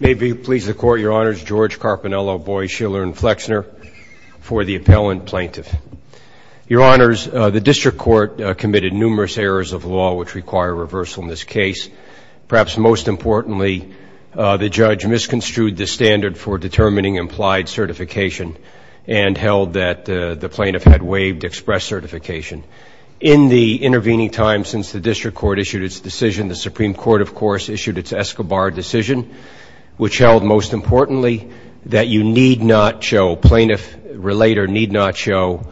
May it please the court, your honors, George Carpinello, Boies, Shiller, and Flexner for the appellant plaintiff. Your honors, the district court committed numerous errors of law which require reversal in this case. Perhaps most importantly, the judge misconstrued the standard for determining implied certification and held that the plaintiff had waived express certification. In the intervening time since the district court issued its decision, the Supreme Court, of course, issued its Escobar decision which held, most importantly, that you need not show, plaintiff, relate or need not show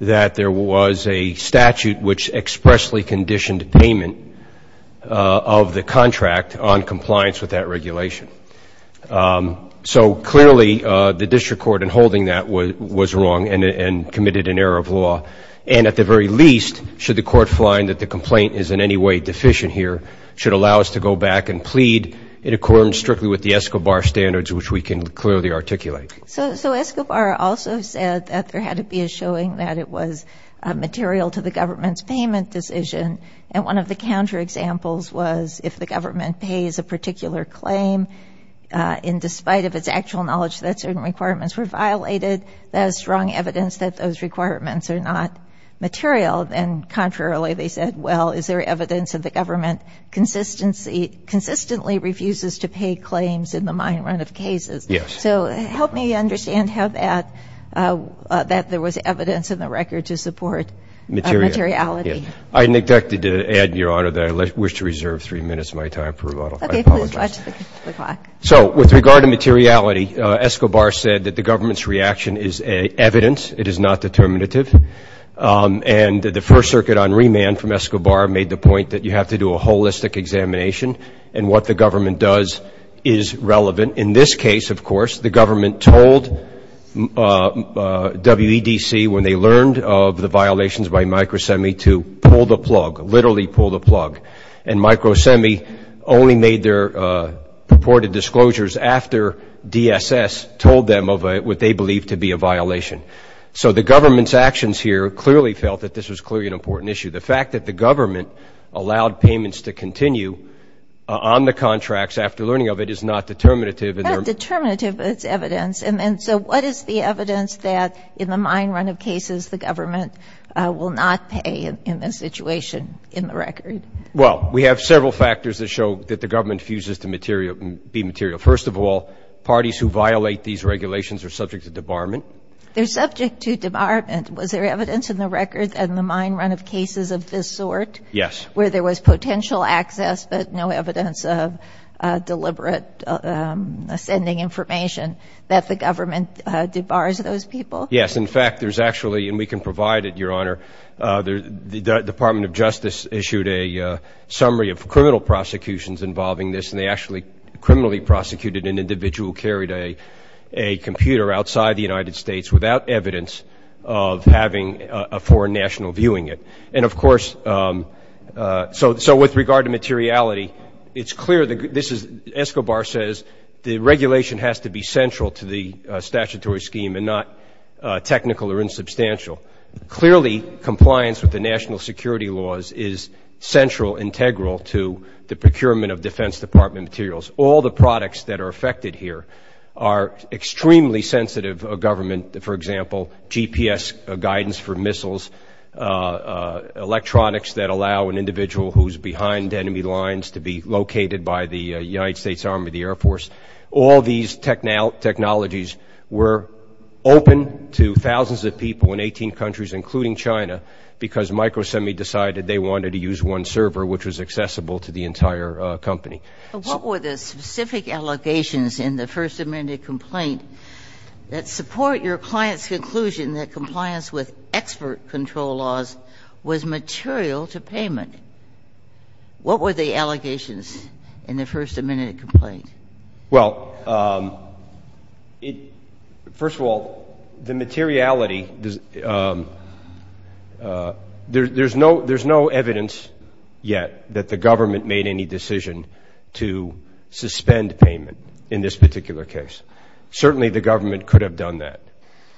that there was a statute which expressly conditioned payment of the contract on compliance with that regulation. So clearly, the district court in holding that was wrong and committed an error of law. And at the very least, should the court find that the complaint is in any way deficient here, should allow us to go back and plead in accordance strictly with the Escobar standards which we can clearly articulate. So Escobar also said that there had to be a showing that it was material to the government's payment decision. And one of the counterexamples was if the government pays a particular claim in despite of its actual knowledge that certain requirements were violated, there is strong evidence that those requirements are not material. And contrarily, they said, well, is there evidence that the government consistently refuses to pay claims in the mine run of cases? Yes. So help me understand how that there was evidence in the record to support materiality. I neglected to add, Your Honor, that I wish to reserve three minutes of my time for rebuttal. I apologize. Okay. Please watch the clock. So with regard to materiality, Escobar said that the government's reaction is evidence. It is not determinative. And the First Circuit on remand from Escobar made the point that you have to do a holistic examination and what the government does is relevant. In this case, of course, the government told WEDC when they learned of the violations by MicroSemi to pull the plug, literally pull the plug. And MicroSemi only made their purported disclosures after DSS told them of what they believed to be a violation. So the government's actions here clearly felt that this was clearly an important issue. The fact that the government allowed payments to continue on the contracts after learning of it is not determinative. It's not determinative, but it's evidence. And so what is the evidence that in the mine run of cases the government will not pay in this situation in the record? Well, we have several factors that show that the government fuses to be material. First of all, parties who violate these regulations are subject to debarment. They're subject to debarment. Was there evidence in the records in the mine run of cases of this sort? Yes. Where there was potential access but no evidence of deliberate sending information that the government debars those people? Yes. In fact, there's actually, and we can provide it, Your Honor, the Department of Justice issued a summary of criminal prosecutions involving this, and they actually criminally prosecuted an individual who carried a computer outside the United States without evidence of having a foreign national viewing it. And, of course, so with regard to materiality, it's clear that this is, Escobar says the regulation has to be central to the statutory scheme and not technical or insubstantial. Clearly, compliance with the national security laws is central, integral to the procurement of Defense Department materials. All the products that are affected here are extremely sensitive government, for example, GPS guidance for missiles, electronics that allow an individual who's behind enemy lines to be located by the United States Army, the Air Force. All these technologies were open to thousands of people in 18 countries, including China, because MicroSemi decided they wanted to use one server, which was accessible to the entire company. So what were the specific allegations in the First Amendment complaint that support your client's conclusion that compliance with expert control laws was material to payment? What were the allegations in the First Amendment complaint? Well, first of all, the materiality, there's no evidence yet that the government made any decision to suspend payment in this particular case. Certainly, the government could have done that,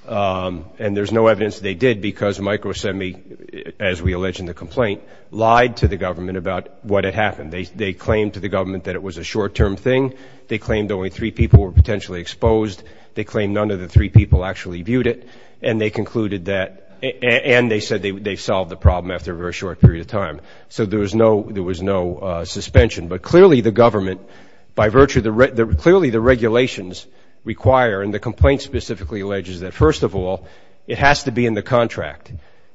and there's no evidence they did because MicroSemi, as we allege in the complaint, lied to the government about what had happened. They claimed to the government that it was a short-term thing. They claimed only three people were potentially exposed. They claimed none of the three people actually viewed it, and they concluded that, and they said they solved the problem after a very short period of time. So there was no suspension. But clearly the government, by virtue, clearly the regulations require, and the complaint specifically alleges that, first of all, it has to be in the contract.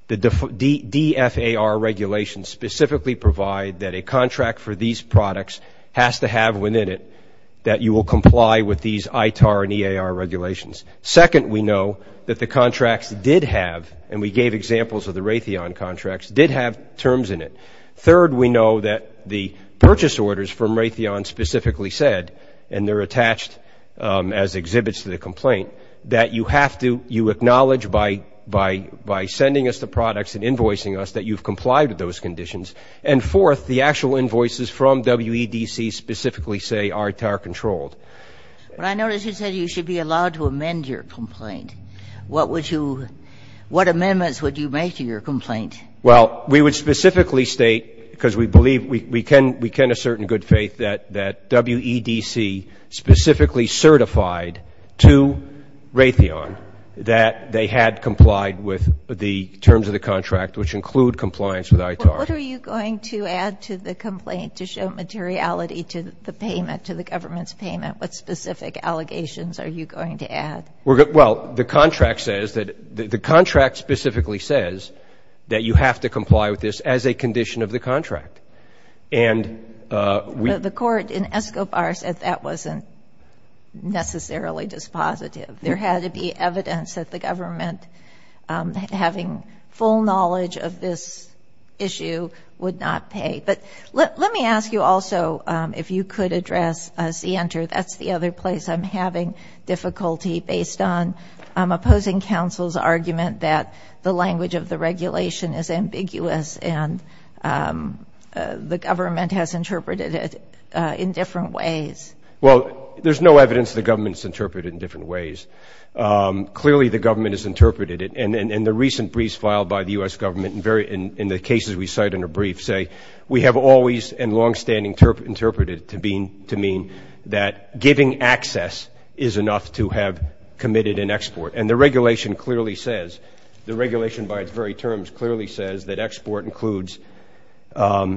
The DFAR regulations specifically provide that a contract for these products has to have within it that you will comply with these ITAR and EAR regulations. Second, we know that the contracts did have, and we gave examples of the Raytheon contracts, did have terms in it. Third, we know that the purchase orders from Raytheon specifically said, and they're attached as exhibits to the complaint, that you have to, you acknowledge by sending us the products and invoicing us that you've complied with those conditions. And fourth, the actual invoices from WEDC specifically say ITAR controlled. But I noticed you said you should be allowed to amend your complaint. What would you, what amendments would you make to your complaint? Well, we would specifically state, because we believe, we can assert in good faith that WEDC specifically certified to Raytheon that they had complied with the terms of the contract, which include compliance with ITAR. What are you going to add to the complaint to show materiality to the payment, to the government's payment? What specific allegations are you going to add? Well, the contract says that, the contract specifically says that you have to comply with this as a condition of the contract. And we. The court in ESCOBAR said that wasn't necessarily dispositive. There had to be evidence that the government, having full knowledge of this issue, would not pay. But let me ask you also, if you could address CENTER. That's the other place I'm having difficulty, based on opposing counsel's argument that the language of the regulation is ambiguous and the government has interpreted it in different ways. Well, there's no evidence the government has interpreted it in different ways. Clearly, the government has interpreted it. And the recent briefs filed by the U.S. government in the cases we cite in the briefs say, we have always and longstanding interpreted it to mean that giving access is enough to have committed an export. And the regulation clearly says, the regulation by its very terms clearly says that export includes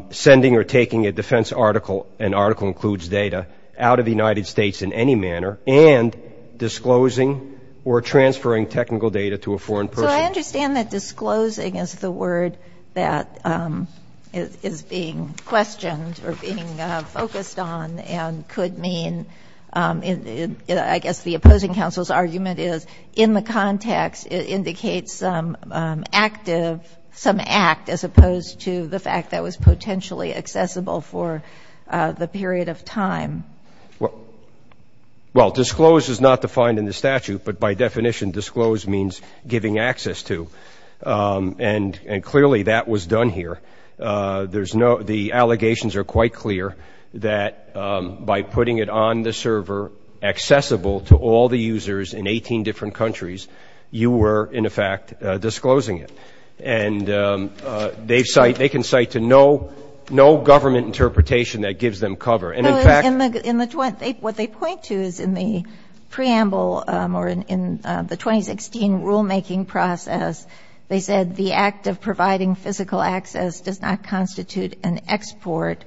sending or taking a defense article, an article includes data, out of the United States in any manner, and disclosing or transferring technical data to a foreign person. But I understand that disclosing is the word that is being questioned or being focused on and could mean, I guess the opposing counsel's argument is, in the context it indicates some active, some act, as opposed to the fact that was potentially accessible for the period of time. Well, disclosed is not defined in the statute. But by definition, disclosed means giving access to. And clearly that was done here. The allegations are quite clear that by putting it on the server accessible to all the users in 18 different countries, you were, in effect, disclosing it. And they can cite to no government interpretation that gives them cover. What they point to is in the preamble or in the 2016 rulemaking process, they said the act of providing physical access does not constitute an export.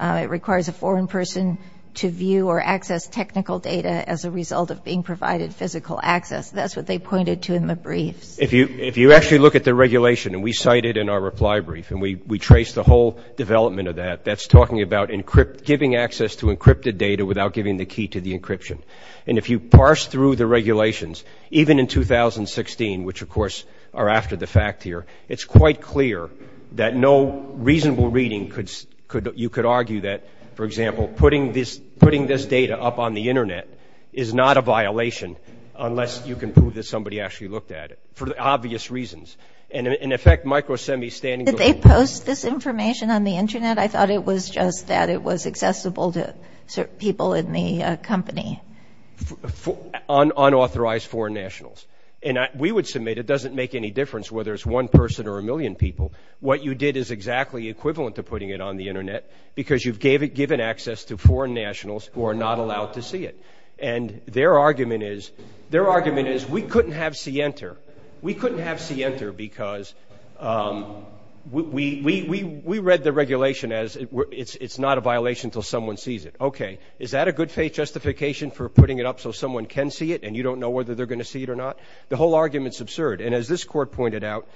It requires a foreign person to view or access technical data as a result of being provided physical access. That's what they pointed to in the briefs. If you actually look at the regulation, and we cite it in our reply brief, and we trace the whole development of that, that's talking about giving access to encrypted data without giving the key to the encryption. And if you parse through the regulations, even in 2016, which, of course, are after the fact here, it's quite clear that no reasonable reading, you could argue that, for example, putting this data up on the Internet is not a violation unless you can prove that somebody actually looked at it, for obvious reasons. And, in effect, micro-semi-standing. Did they post this information on the Internet? I thought it was just that it was accessible to certain people in the company. Unauthorized foreign nationals. And we would submit it doesn't make any difference whether it's one person or a million people. What you did is exactly equivalent to putting it on the Internet because you've given access to foreign nationals who are not allowed to see it. And their argument is we couldn't have C-Enter. We couldn't have C-Enter because we read the regulation as it's not a violation until someone sees it. Okay. Is that a good faith justification for putting it up so someone can see it and you don't know whether they're going to see it or not? The whole argument is absurd. And as this Court pointed out,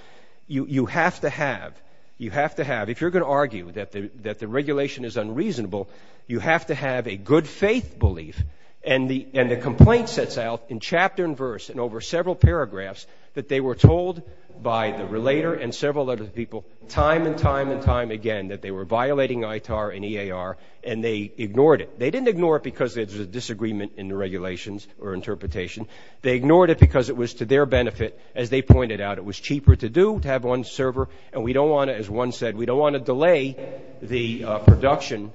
you have to have, you have to have, if you're going to argue that the regulation is unreasonable, you have to have a good faith belief. And the complaint sets out in chapter and verse and over several paragraphs that they were told by the relator and several other people time and time and time again that they were violating ITAR and EAR and they ignored it. They didn't ignore it because there was a disagreement in the regulations or interpretation. They ignored it because it was to their benefit. As they pointed out, it was cheaper to do, to have one server, and we don't want to, as one said, we don't want to delay the production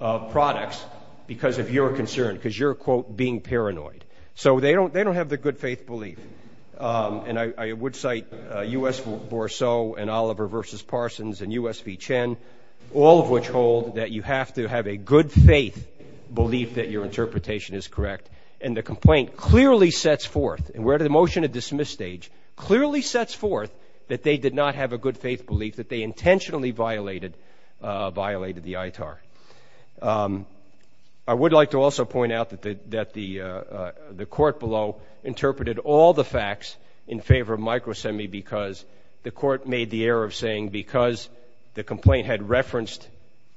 of products because of your concern, because you're, quote, being paranoid. So they don't have the good faith belief. And I would cite U.S. Bourceau and Oliver v. Parsons and U.S. V. Chen, all of which hold that you have to have a good faith belief that your interpretation is correct. And the complaint clearly sets forth, and we're at a motion to dismiss stage, clearly sets forth that they did not have a good faith belief that they intentionally violated the ITAR. I would like to also point out that the court below interpreted all the facts in favor of micro-SEMI because the court made the error of saying because the complaint had referenced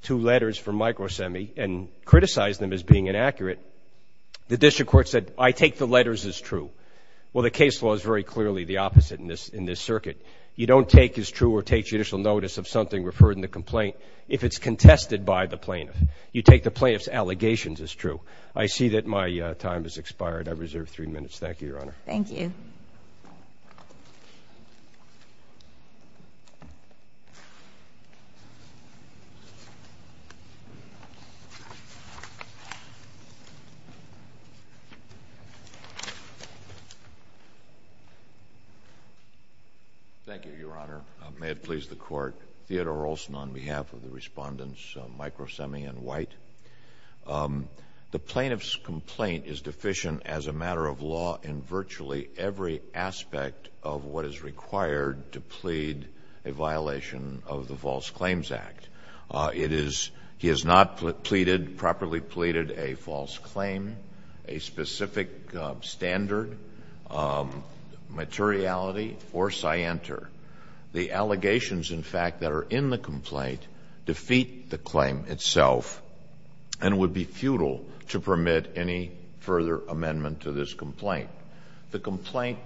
two letters from micro-SEMI and criticized them as being inaccurate, the district court said, I take the letters as true. Well, the case law is very clearly the opposite in this circuit. You don't take as true or take judicial notice of something referred in the complaint if it's contested by the plaintiff. You take the plaintiff's allegations as true. I see that my time has expired. I reserve three minutes. Thank you, Your Honor. Thank you. Thank you, Your Honor. May it please the Court, Theodore Olson on behalf of the respondents, micro-SEMI and White. The plaintiff's complaint is deficient as a matter of law in virtually every aspect of what is required to plead a violation of the False Claims Act. It is, he has not pleaded, properly pleaded a false claim, a specific standard, materiality, or scienter. The allegations, in fact, that are in the complaint defeat the claim itself and would be futile to permit any further amendment to this complaint. The complaint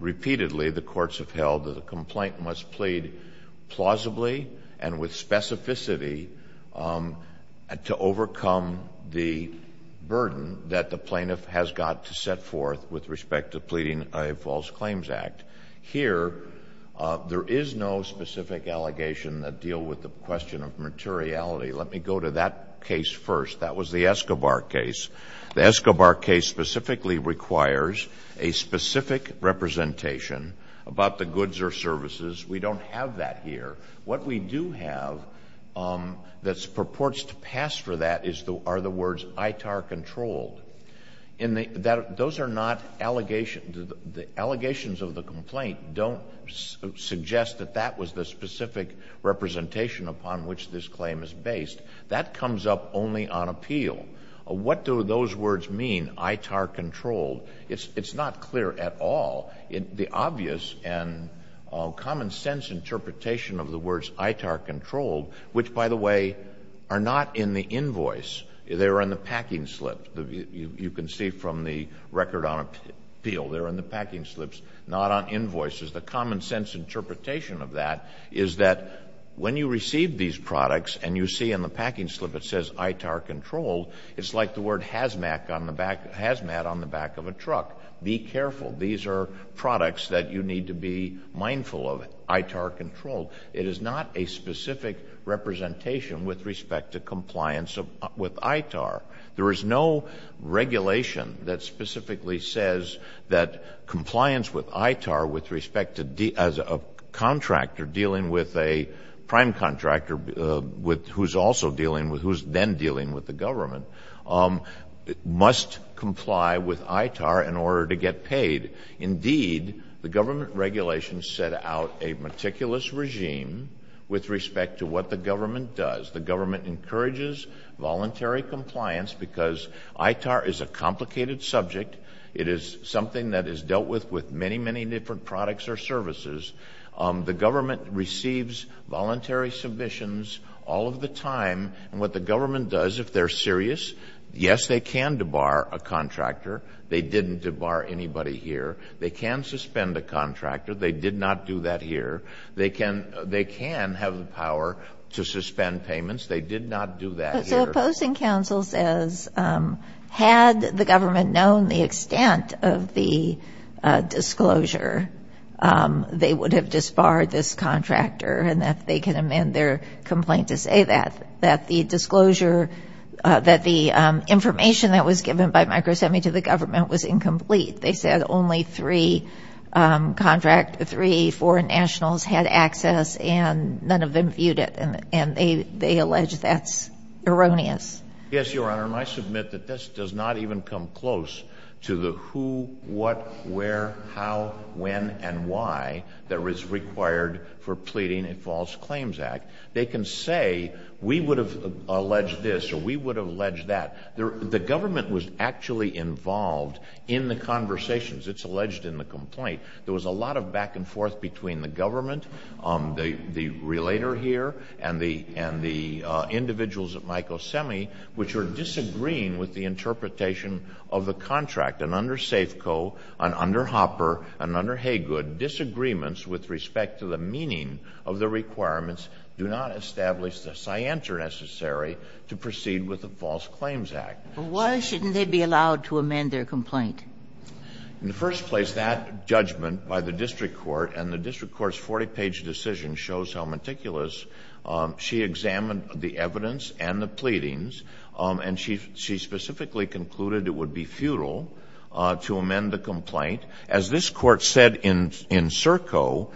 repeatedly, the courts have held that the complaint must plead plausibly and with specificity to overcome the burden that the plaintiff has got to set forth with respect to pleading a false claims act. Here, there is no specific allegation that deal with the question of materiality. Let me go to that case first. That was the Escobar case. The Escobar case specifically requires a specific representation about the goods or services. We don't have that here. What we do have that purports to pass for that are the words ITAR controlled. Those are not allegations. The allegations of the complaint don't suggest that that was the specific representation upon which this claim is based. That comes up only on appeal. What do those words mean, ITAR controlled? It's not clear at all. The obvious and common sense interpretation of the words ITAR controlled, which, by the way, are not in the invoice. They're in the packing slip. You can see from the record on appeal. They're in the packing slips, not on invoices. The common sense interpretation of that is that when you receive these products and you see in the packing slip it says ITAR controlled, it's like the word hazmat on the back of a truck. Be careful. These are products that you need to be mindful of, ITAR controlled. It is not a specific representation with respect to compliance with ITAR. There is no regulation that specifically says that compliance with ITAR with respect to a contractor dealing with a prime contractor who's also dealing with, who's then dealing with the government, must comply with ITAR in order to get paid. Indeed, the government regulations set out a meticulous regime with respect to what the government does. The government encourages voluntary compliance because ITAR is a complicated subject. It is something that is dealt with with many, many different products or services. The government receives voluntary submissions all of the time. And what the government does, if they're serious, yes, they can debar a contractor. They didn't debar anybody here. They can suspend a contractor. They did not do that here. They can have the power to suspend payments. They did not do that here. So opposing counsel says had the government known the extent of the disclosure, they would have disbarred this contractor and that they can amend their complaint to say that, that the disclosure, that the information that was given by MicroSemi to the government was incomplete. They said only three contract, three foreign nationals had access and none of them viewed it. And they allege that's erroneous. Yes, Your Honor, and I submit that this does not even come close to the who, what, where, how, when, and why that is required for pleading a false claims act. They can say we would have alleged this or we would have alleged that. The government was actually involved in the conversations. It's alleged in the complaint. There was a lot of back and forth between the government, the relator here, and the individuals at MicroSemi which are disagreeing with the interpretation of the contract. And under Safeco and under Hopper and under Haygood, disagreements with respect to the meaning of the requirements do not establish the scienter necessary to proceed with a false claims act. But why shouldn't they be allowed to amend their complaint? In the first place, that judgment by the district court, and the district court's 40-page decision shows how meticulous. She examined the evidence and the pleadings, and she specifically concluded it would be futile to amend the complaint. As this Court said in Serco,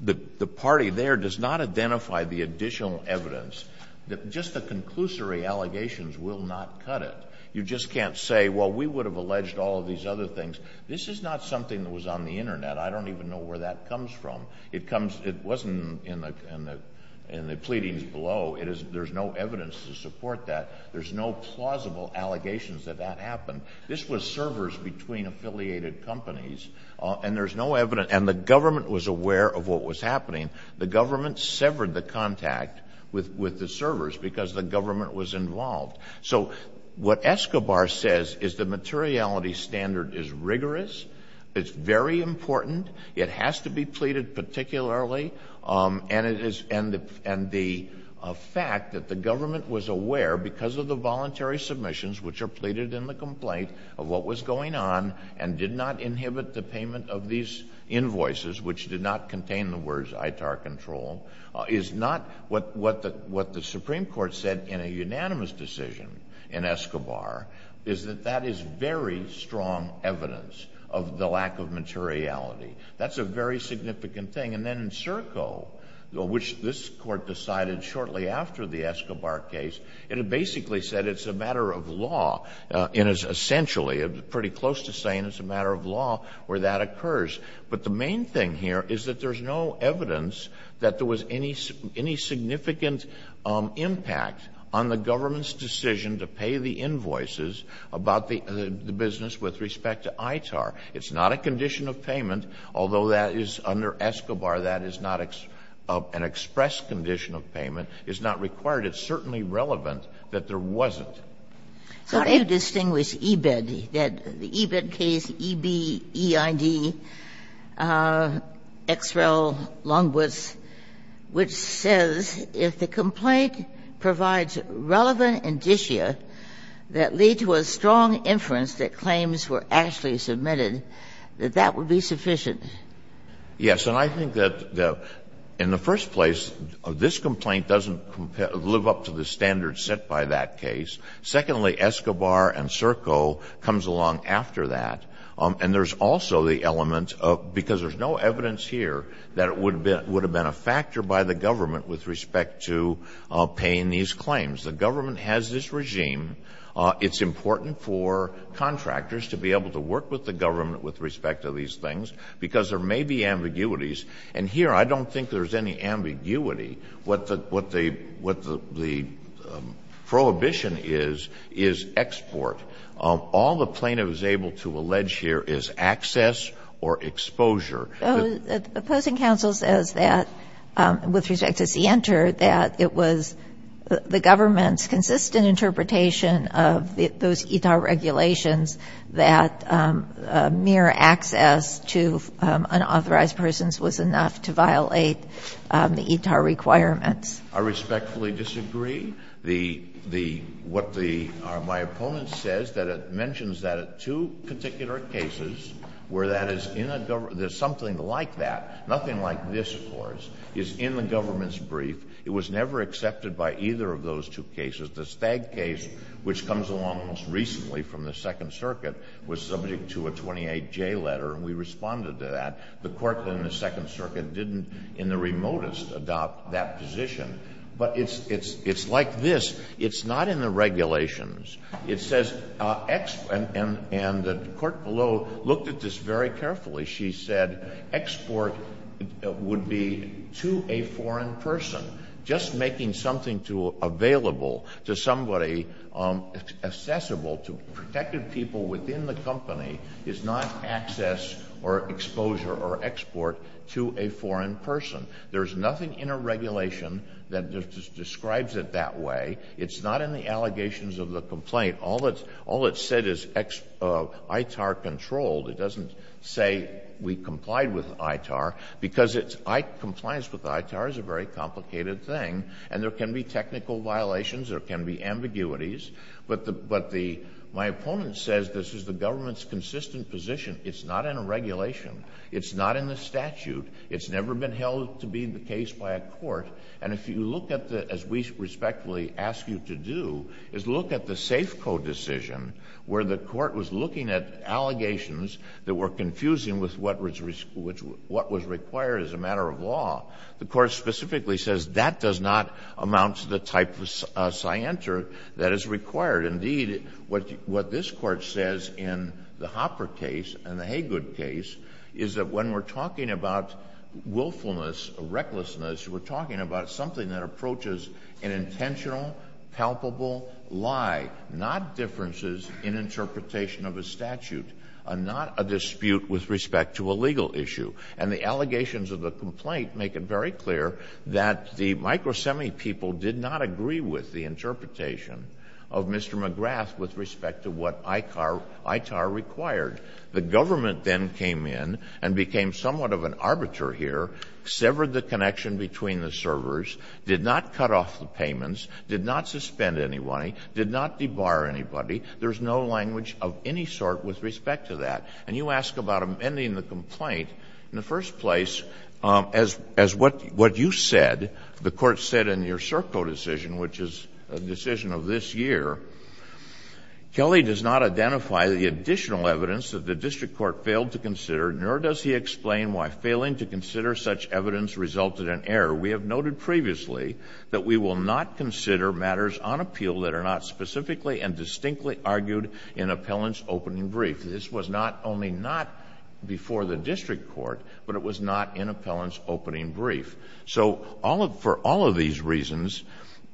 the party there does not identify the additional evidence. Just the conclusory allegations will not cut it. You just can't say, well, we would have alleged all of these other things. This is not something that was on the Internet. I don't even know where that comes from. It wasn't in the pleadings below. There's no evidence to support that. There's no plausible allegations that that happened. This was servers between affiliated companies, and there's no evidence, and the government was aware of what was happening. The government severed the contact with the servers because the government was involved. So what Escobar says is the materiality standard is rigorous. It's very important. It has to be pleaded particularly, and the fact that the government was aware, because of the voluntary submissions which are pleaded in the complaint of what was going on and did not inhibit the payment of these invoices, which did not contain the words ITAR control, is not what the Supreme Court said in a unanimous decision in Escobar, is that that is very strong evidence of the lack of materiality. That's a very significant thing. And then in Serco, which this Court decided shortly after the Escobar case, it basically said it's a matter of law. It is essentially pretty close to saying it's a matter of law where that occurs. But the main thing here is that there's no evidence that there was any significant impact on the government's decision to pay the invoices about the business with respect to ITAR. It's not a condition of payment, although that is under Escobar. That is not an express condition of payment. It's not required. It's certainly relevant that there wasn't. So I do distinguish EBED. The EBED case, E-B-E-I-D, Ex Rel. Longwoods, which says if the complaint provides relevant indicia that lead to a strong inference that claims were actually submitted, that that would be sufficient. Yes. And I think that in the first place, this complaint doesn't live up to the standards set by that case. Secondly, Escobar and Serco comes along after that. And there's also the element of, because there's no evidence here that it would have been a factor by the government with respect to paying these claims. The government has this regime. It's important for contractors to be able to work with the government with respect to these things, because there may be ambiguities. And here, I don't think there's any ambiguity. What the prohibition is, is export. All the plaintiff is able to allege here is access or exposure. The opposing counsel says that, with respect to Sienter, that it was the government's insistent interpretation of those ETA regulations that mere access to unauthorized persons was enough to violate the ETA requirements. I respectfully disagree. The the what the my opponent says that it mentions that at two particular cases where that is in a government, there's something like that, nothing like this, of course, is in the government's brief. It was never accepted by either of those two cases. The Stagg case, which comes along most recently from the Second Circuit, was subject to a 28J letter, and we responded to that. The court in the Second Circuit didn't, in the remotest, adopt that position. But it's like this. It's not in the regulations. It says, and the court below looked at this very carefully. She said export would be to a foreign person. Just making something available to somebody accessible to protected people within the company is not access or exposure or export to a foreign person. There's nothing in a regulation that describes it that way. It's not in the allegations of the complaint. All it said is ITAR controlled. It doesn't say we complied with ITAR because compliance with ITAR is a very complicated thing, and there can be technical violations. There can be ambiguities. But my opponent says this is the government's consistent position. It's not in a regulation. It's not in the statute. It's never been held to be the case by a court. And if you look at the, as we respectfully ask you to do, is look at the Safeco decision where the court was looking at allegations that were confusing with what was required as a matter of law. The court specifically says that does not amount to the type of scienter that is required. Indeed, what this court says in the Hopper case and the Haygood case is that when we're talking about willfulness, recklessness, we're talking about something that approaches an intentional, palpable lie, not differences in interpretation of a statute, not a dispute with respect to a legal issue. And the allegations of the complaint make it very clear that the micro-semi people did not agree with the interpretation of Mr. McGrath with respect to what ITAR required. The government then came in and became somewhat of an arbiter here, severed the connection between the servers, did not cut off the payments, did not suspend any money, did not debar anybody. There's no language of any sort with respect to that. And you ask about amending the complaint. In the first place, as what you said, the court said in your Serco decision, which is a decision of this year, Kelly does not identify the additional evidence that the district court failed to consider, nor does he explain why failing to consider such evidence resulted in error. We have noted previously that we will not consider matters on appeal that are not specifically and distinctly argued in appellant's opening brief. This was not only not before the district court, but it was not in appellant's opening brief. So for all of these reasons,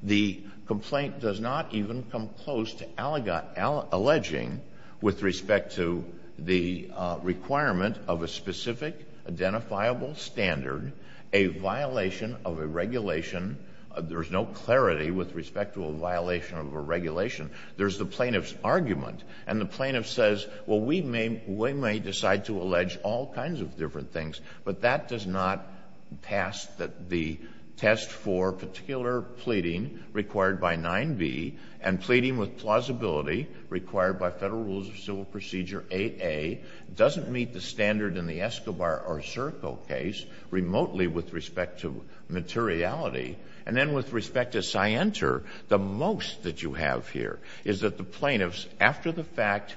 the complaint does not even come close to alleging with respect to the requirement of a specific, identifiable standard, a violation of a regulation. There's no clarity with respect to a violation of a regulation. There's the plaintiff's argument. And the plaintiff says, well, we may decide to allege all kinds of different things, but that does not pass the test for particular pleading required by 9b and pleading with plausibility required by Federal Rules of Civil Procedure 8a. It doesn't meet the standard in the Escobar or Serco case remotely with respect to materiality. And then with respect to Sienter, the most that you have here is that the plaintiffs, after the fact,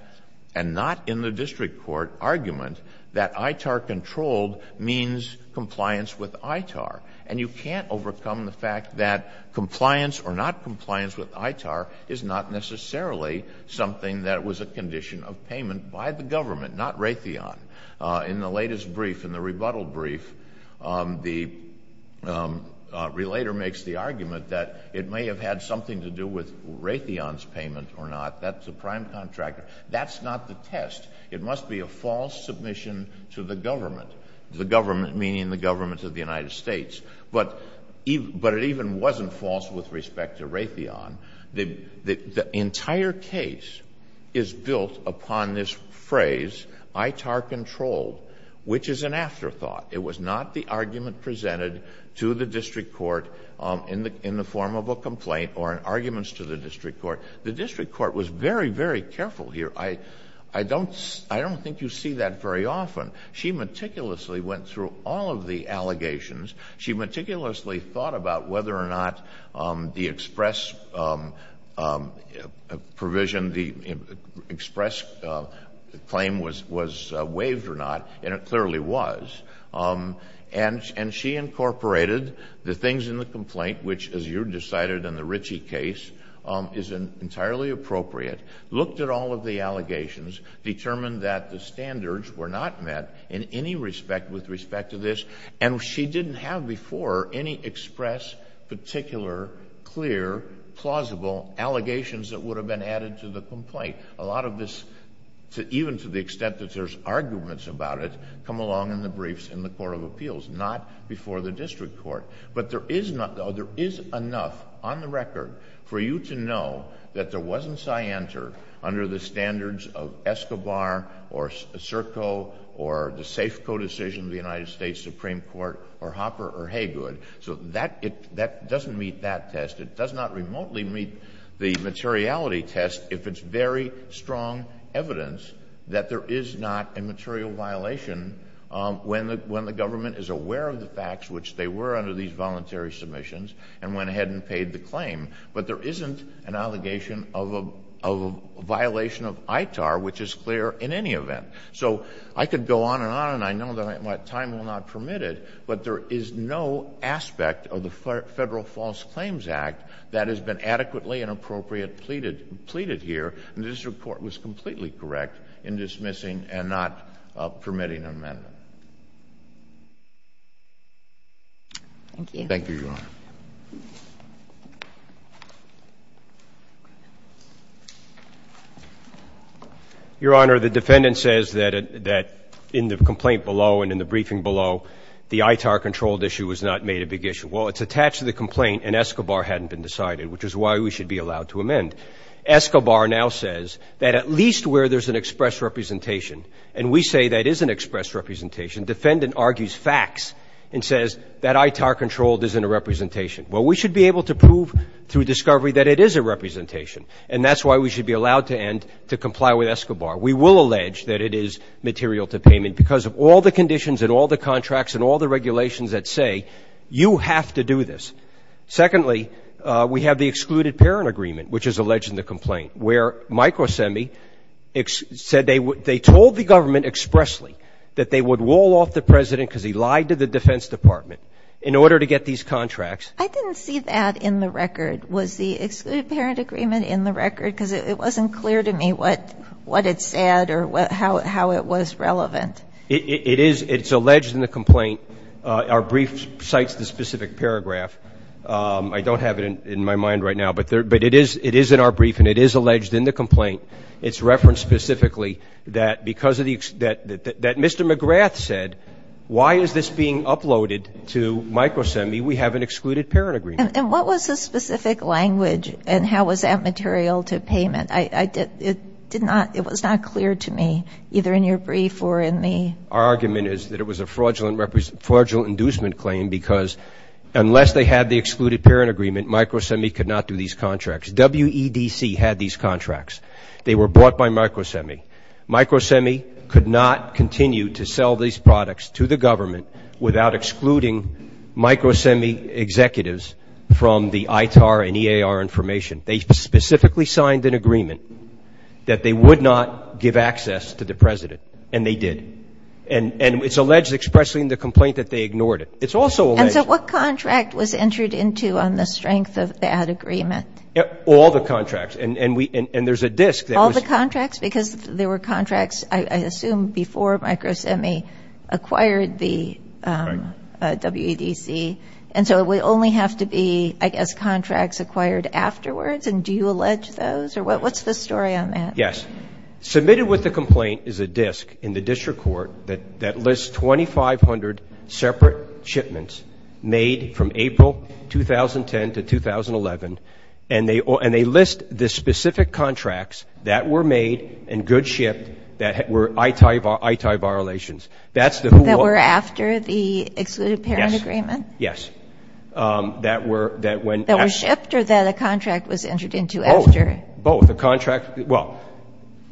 and not in the district court argument, that ITAR controlled means compliance with ITAR. And you can't overcome the fact that compliance or not compliance with ITAR is not necessarily something that was a condition of payment by the government, not Raytheon. In the latest brief, in the rebuttal brief, the relator makes the argument that it may have had something to do with Raytheon's payment or not. That's a prime contractor. That's not the test. It must be a false submission to the government, the government meaning the government of the United States. But it even wasn't false with respect to Raytheon. The entire case is built upon this phrase, ITAR controlled, which is an afterthought. It was not the argument presented to the district court in the form of a complaint or arguments to the district court. The district court was very, very careful here. I don't think you see that very often. She meticulously went through all of the allegations. She meticulously thought about whether or not the express provision, the express claim was waived or not, and it clearly was. And she incorporated the things in the complaint, which, as you decided in the Ritchie case, is entirely appropriate, looked at all of the allegations, determined that the standards were not met in any respect with respect to this. And she didn't have before any express, particular, clear, plausible allegations that would have been added to the complaint. A lot of this, even to the extent that there's arguments about it, come along in the briefs in the court of appeals, not before the district court. But there is enough, on the record, for you to know that there wasn't cyanter under the standards of Escobar or Serco or the Safeco decision of the United States Supreme Court or Hopper or Haygood. So that doesn't meet that test. It does not remotely meet the materiality test if it's very strong evidence that there is not a material violation when the government is aware of the facts, which they were under these voluntary submissions, and went ahead and paid the claim. But there isn't an allegation of a violation of ITAR, which is clear in any event. So I could go on and on, and I know that time will not permit it, but there is no aspect of the Federal False Claims Act that has been adequately and appropriately pleaded here, and the district court was completely correct in dismissing and not permitting an amendment. Thank you. Thank you, Your Honor. Your Honor, the defendant says that in the complaint below and in the briefing below, the ITAR-controlled issue was not made a big issue. Well, it's attached to the complaint and Escobar hadn't been decided, which is why we should be allowed to amend. Escobar now says that at least where there's an express representation, and we say that is an express representation, the defendant argues facts and says that ITAR-controlled isn't a representation. Well, we should be able to prove through discovery that it is a representation, and that's why we should be allowed to end to comply with Escobar. We will allege that it is material to payment because of all the conditions and all the contracts and all the regulations that say you have to do this. Secondly, we have the excluded parent agreement, which is alleged in the complaint, where Microsemi said they told the government expressly that they would wall off the President because he lied to the Defense Department in order to get these contracts. I didn't see that in the record. Was the excluded parent agreement in the record? Because it wasn't clear to me what it said or how it was relevant. It is. It's alleged in the complaint. Our brief cites the specific paragraph. I don't have it in my mind right now. But it is in our brief, and it is alleged in the complaint. It's referenced specifically that Mr. McGrath said, why is this being uploaded to Microsemi? We have an excluded parent agreement. And what was the specific language, and how was that material to payment? It was not clear to me, either in your brief or in the ---- Our argument is that it was a fraudulent inducement claim because unless they had the excluded parent agreement, Microsemi could not do these contracts. WEDC had these contracts. They were bought by Microsemi. Microsemi could not continue to sell these products to the government without excluding Microsemi executives from the ITAR and EAR information. They specifically signed an agreement that they would not give access to the President, and they did. And it's alleged expressly in the complaint that they ignored it. It's also alleged ---- All the contracts. And there's a disk that was ---- All the contracts? Because there were contracts, I assume, before Microsemi acquired the WEDC. And so it would only have to be, I guess, contracts acquired afterwards? And do you allege those? What's the story on that? Yes. Submitted with the complaint is a disk in the district court that lists 2,500 separate shipments made from April 2010 to 2011, and they list the specific contracts that were made and good shipped that were ITAR violations. That were after the excluded parent agreement? Yes. That were shipped or that a contract was entered into after? Both. Both. The contract ---- well,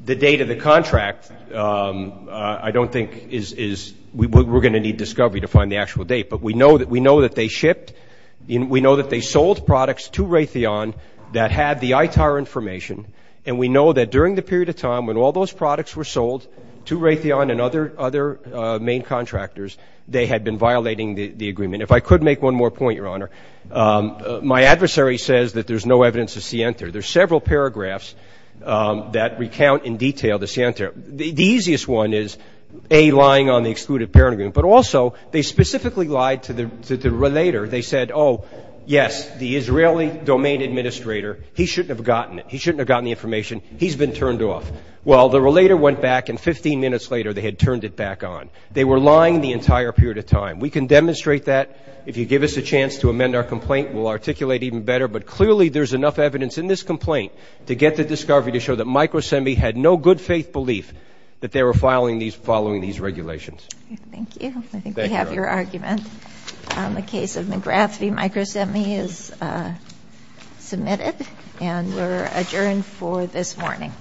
the date of the contract I don't think is ---- we're going to need discovery to find the actual date. But we know that they shipped and we know that they sold products to Raytheon that had the ITAR information. And we know that during the period of time when all those products were sold to Raytheon and other main contractors, they had been violating the agreement. If I could make one more point, Your Honor, my adversary says that there's no evidence of scienter. There's several paragraphs that recount in detail the scienter. The easiest one is, A, lying on the excluded parent agreement, but also they specifically lied to the relator. They said, oh, yes, the Israeli domain administrator, he shouldn't have gotten it. He shouldn't have gotten the information. He's been turned off. Well, the relator went back and 15 minutes later they had turned it back on. They were lying the entire period of time. We can demonstrate that. If you give us a chance to amend our complaint, we'll articulate even better. But clearly there's enough evidence in this complaint to get the discovery to show that McGrath v. Microsemi had no good faith belief that they were following these regulations. Thank you. I think we have your argument. The case of McGrath v. Microsemi is submitted. And we're adjourned for this morning.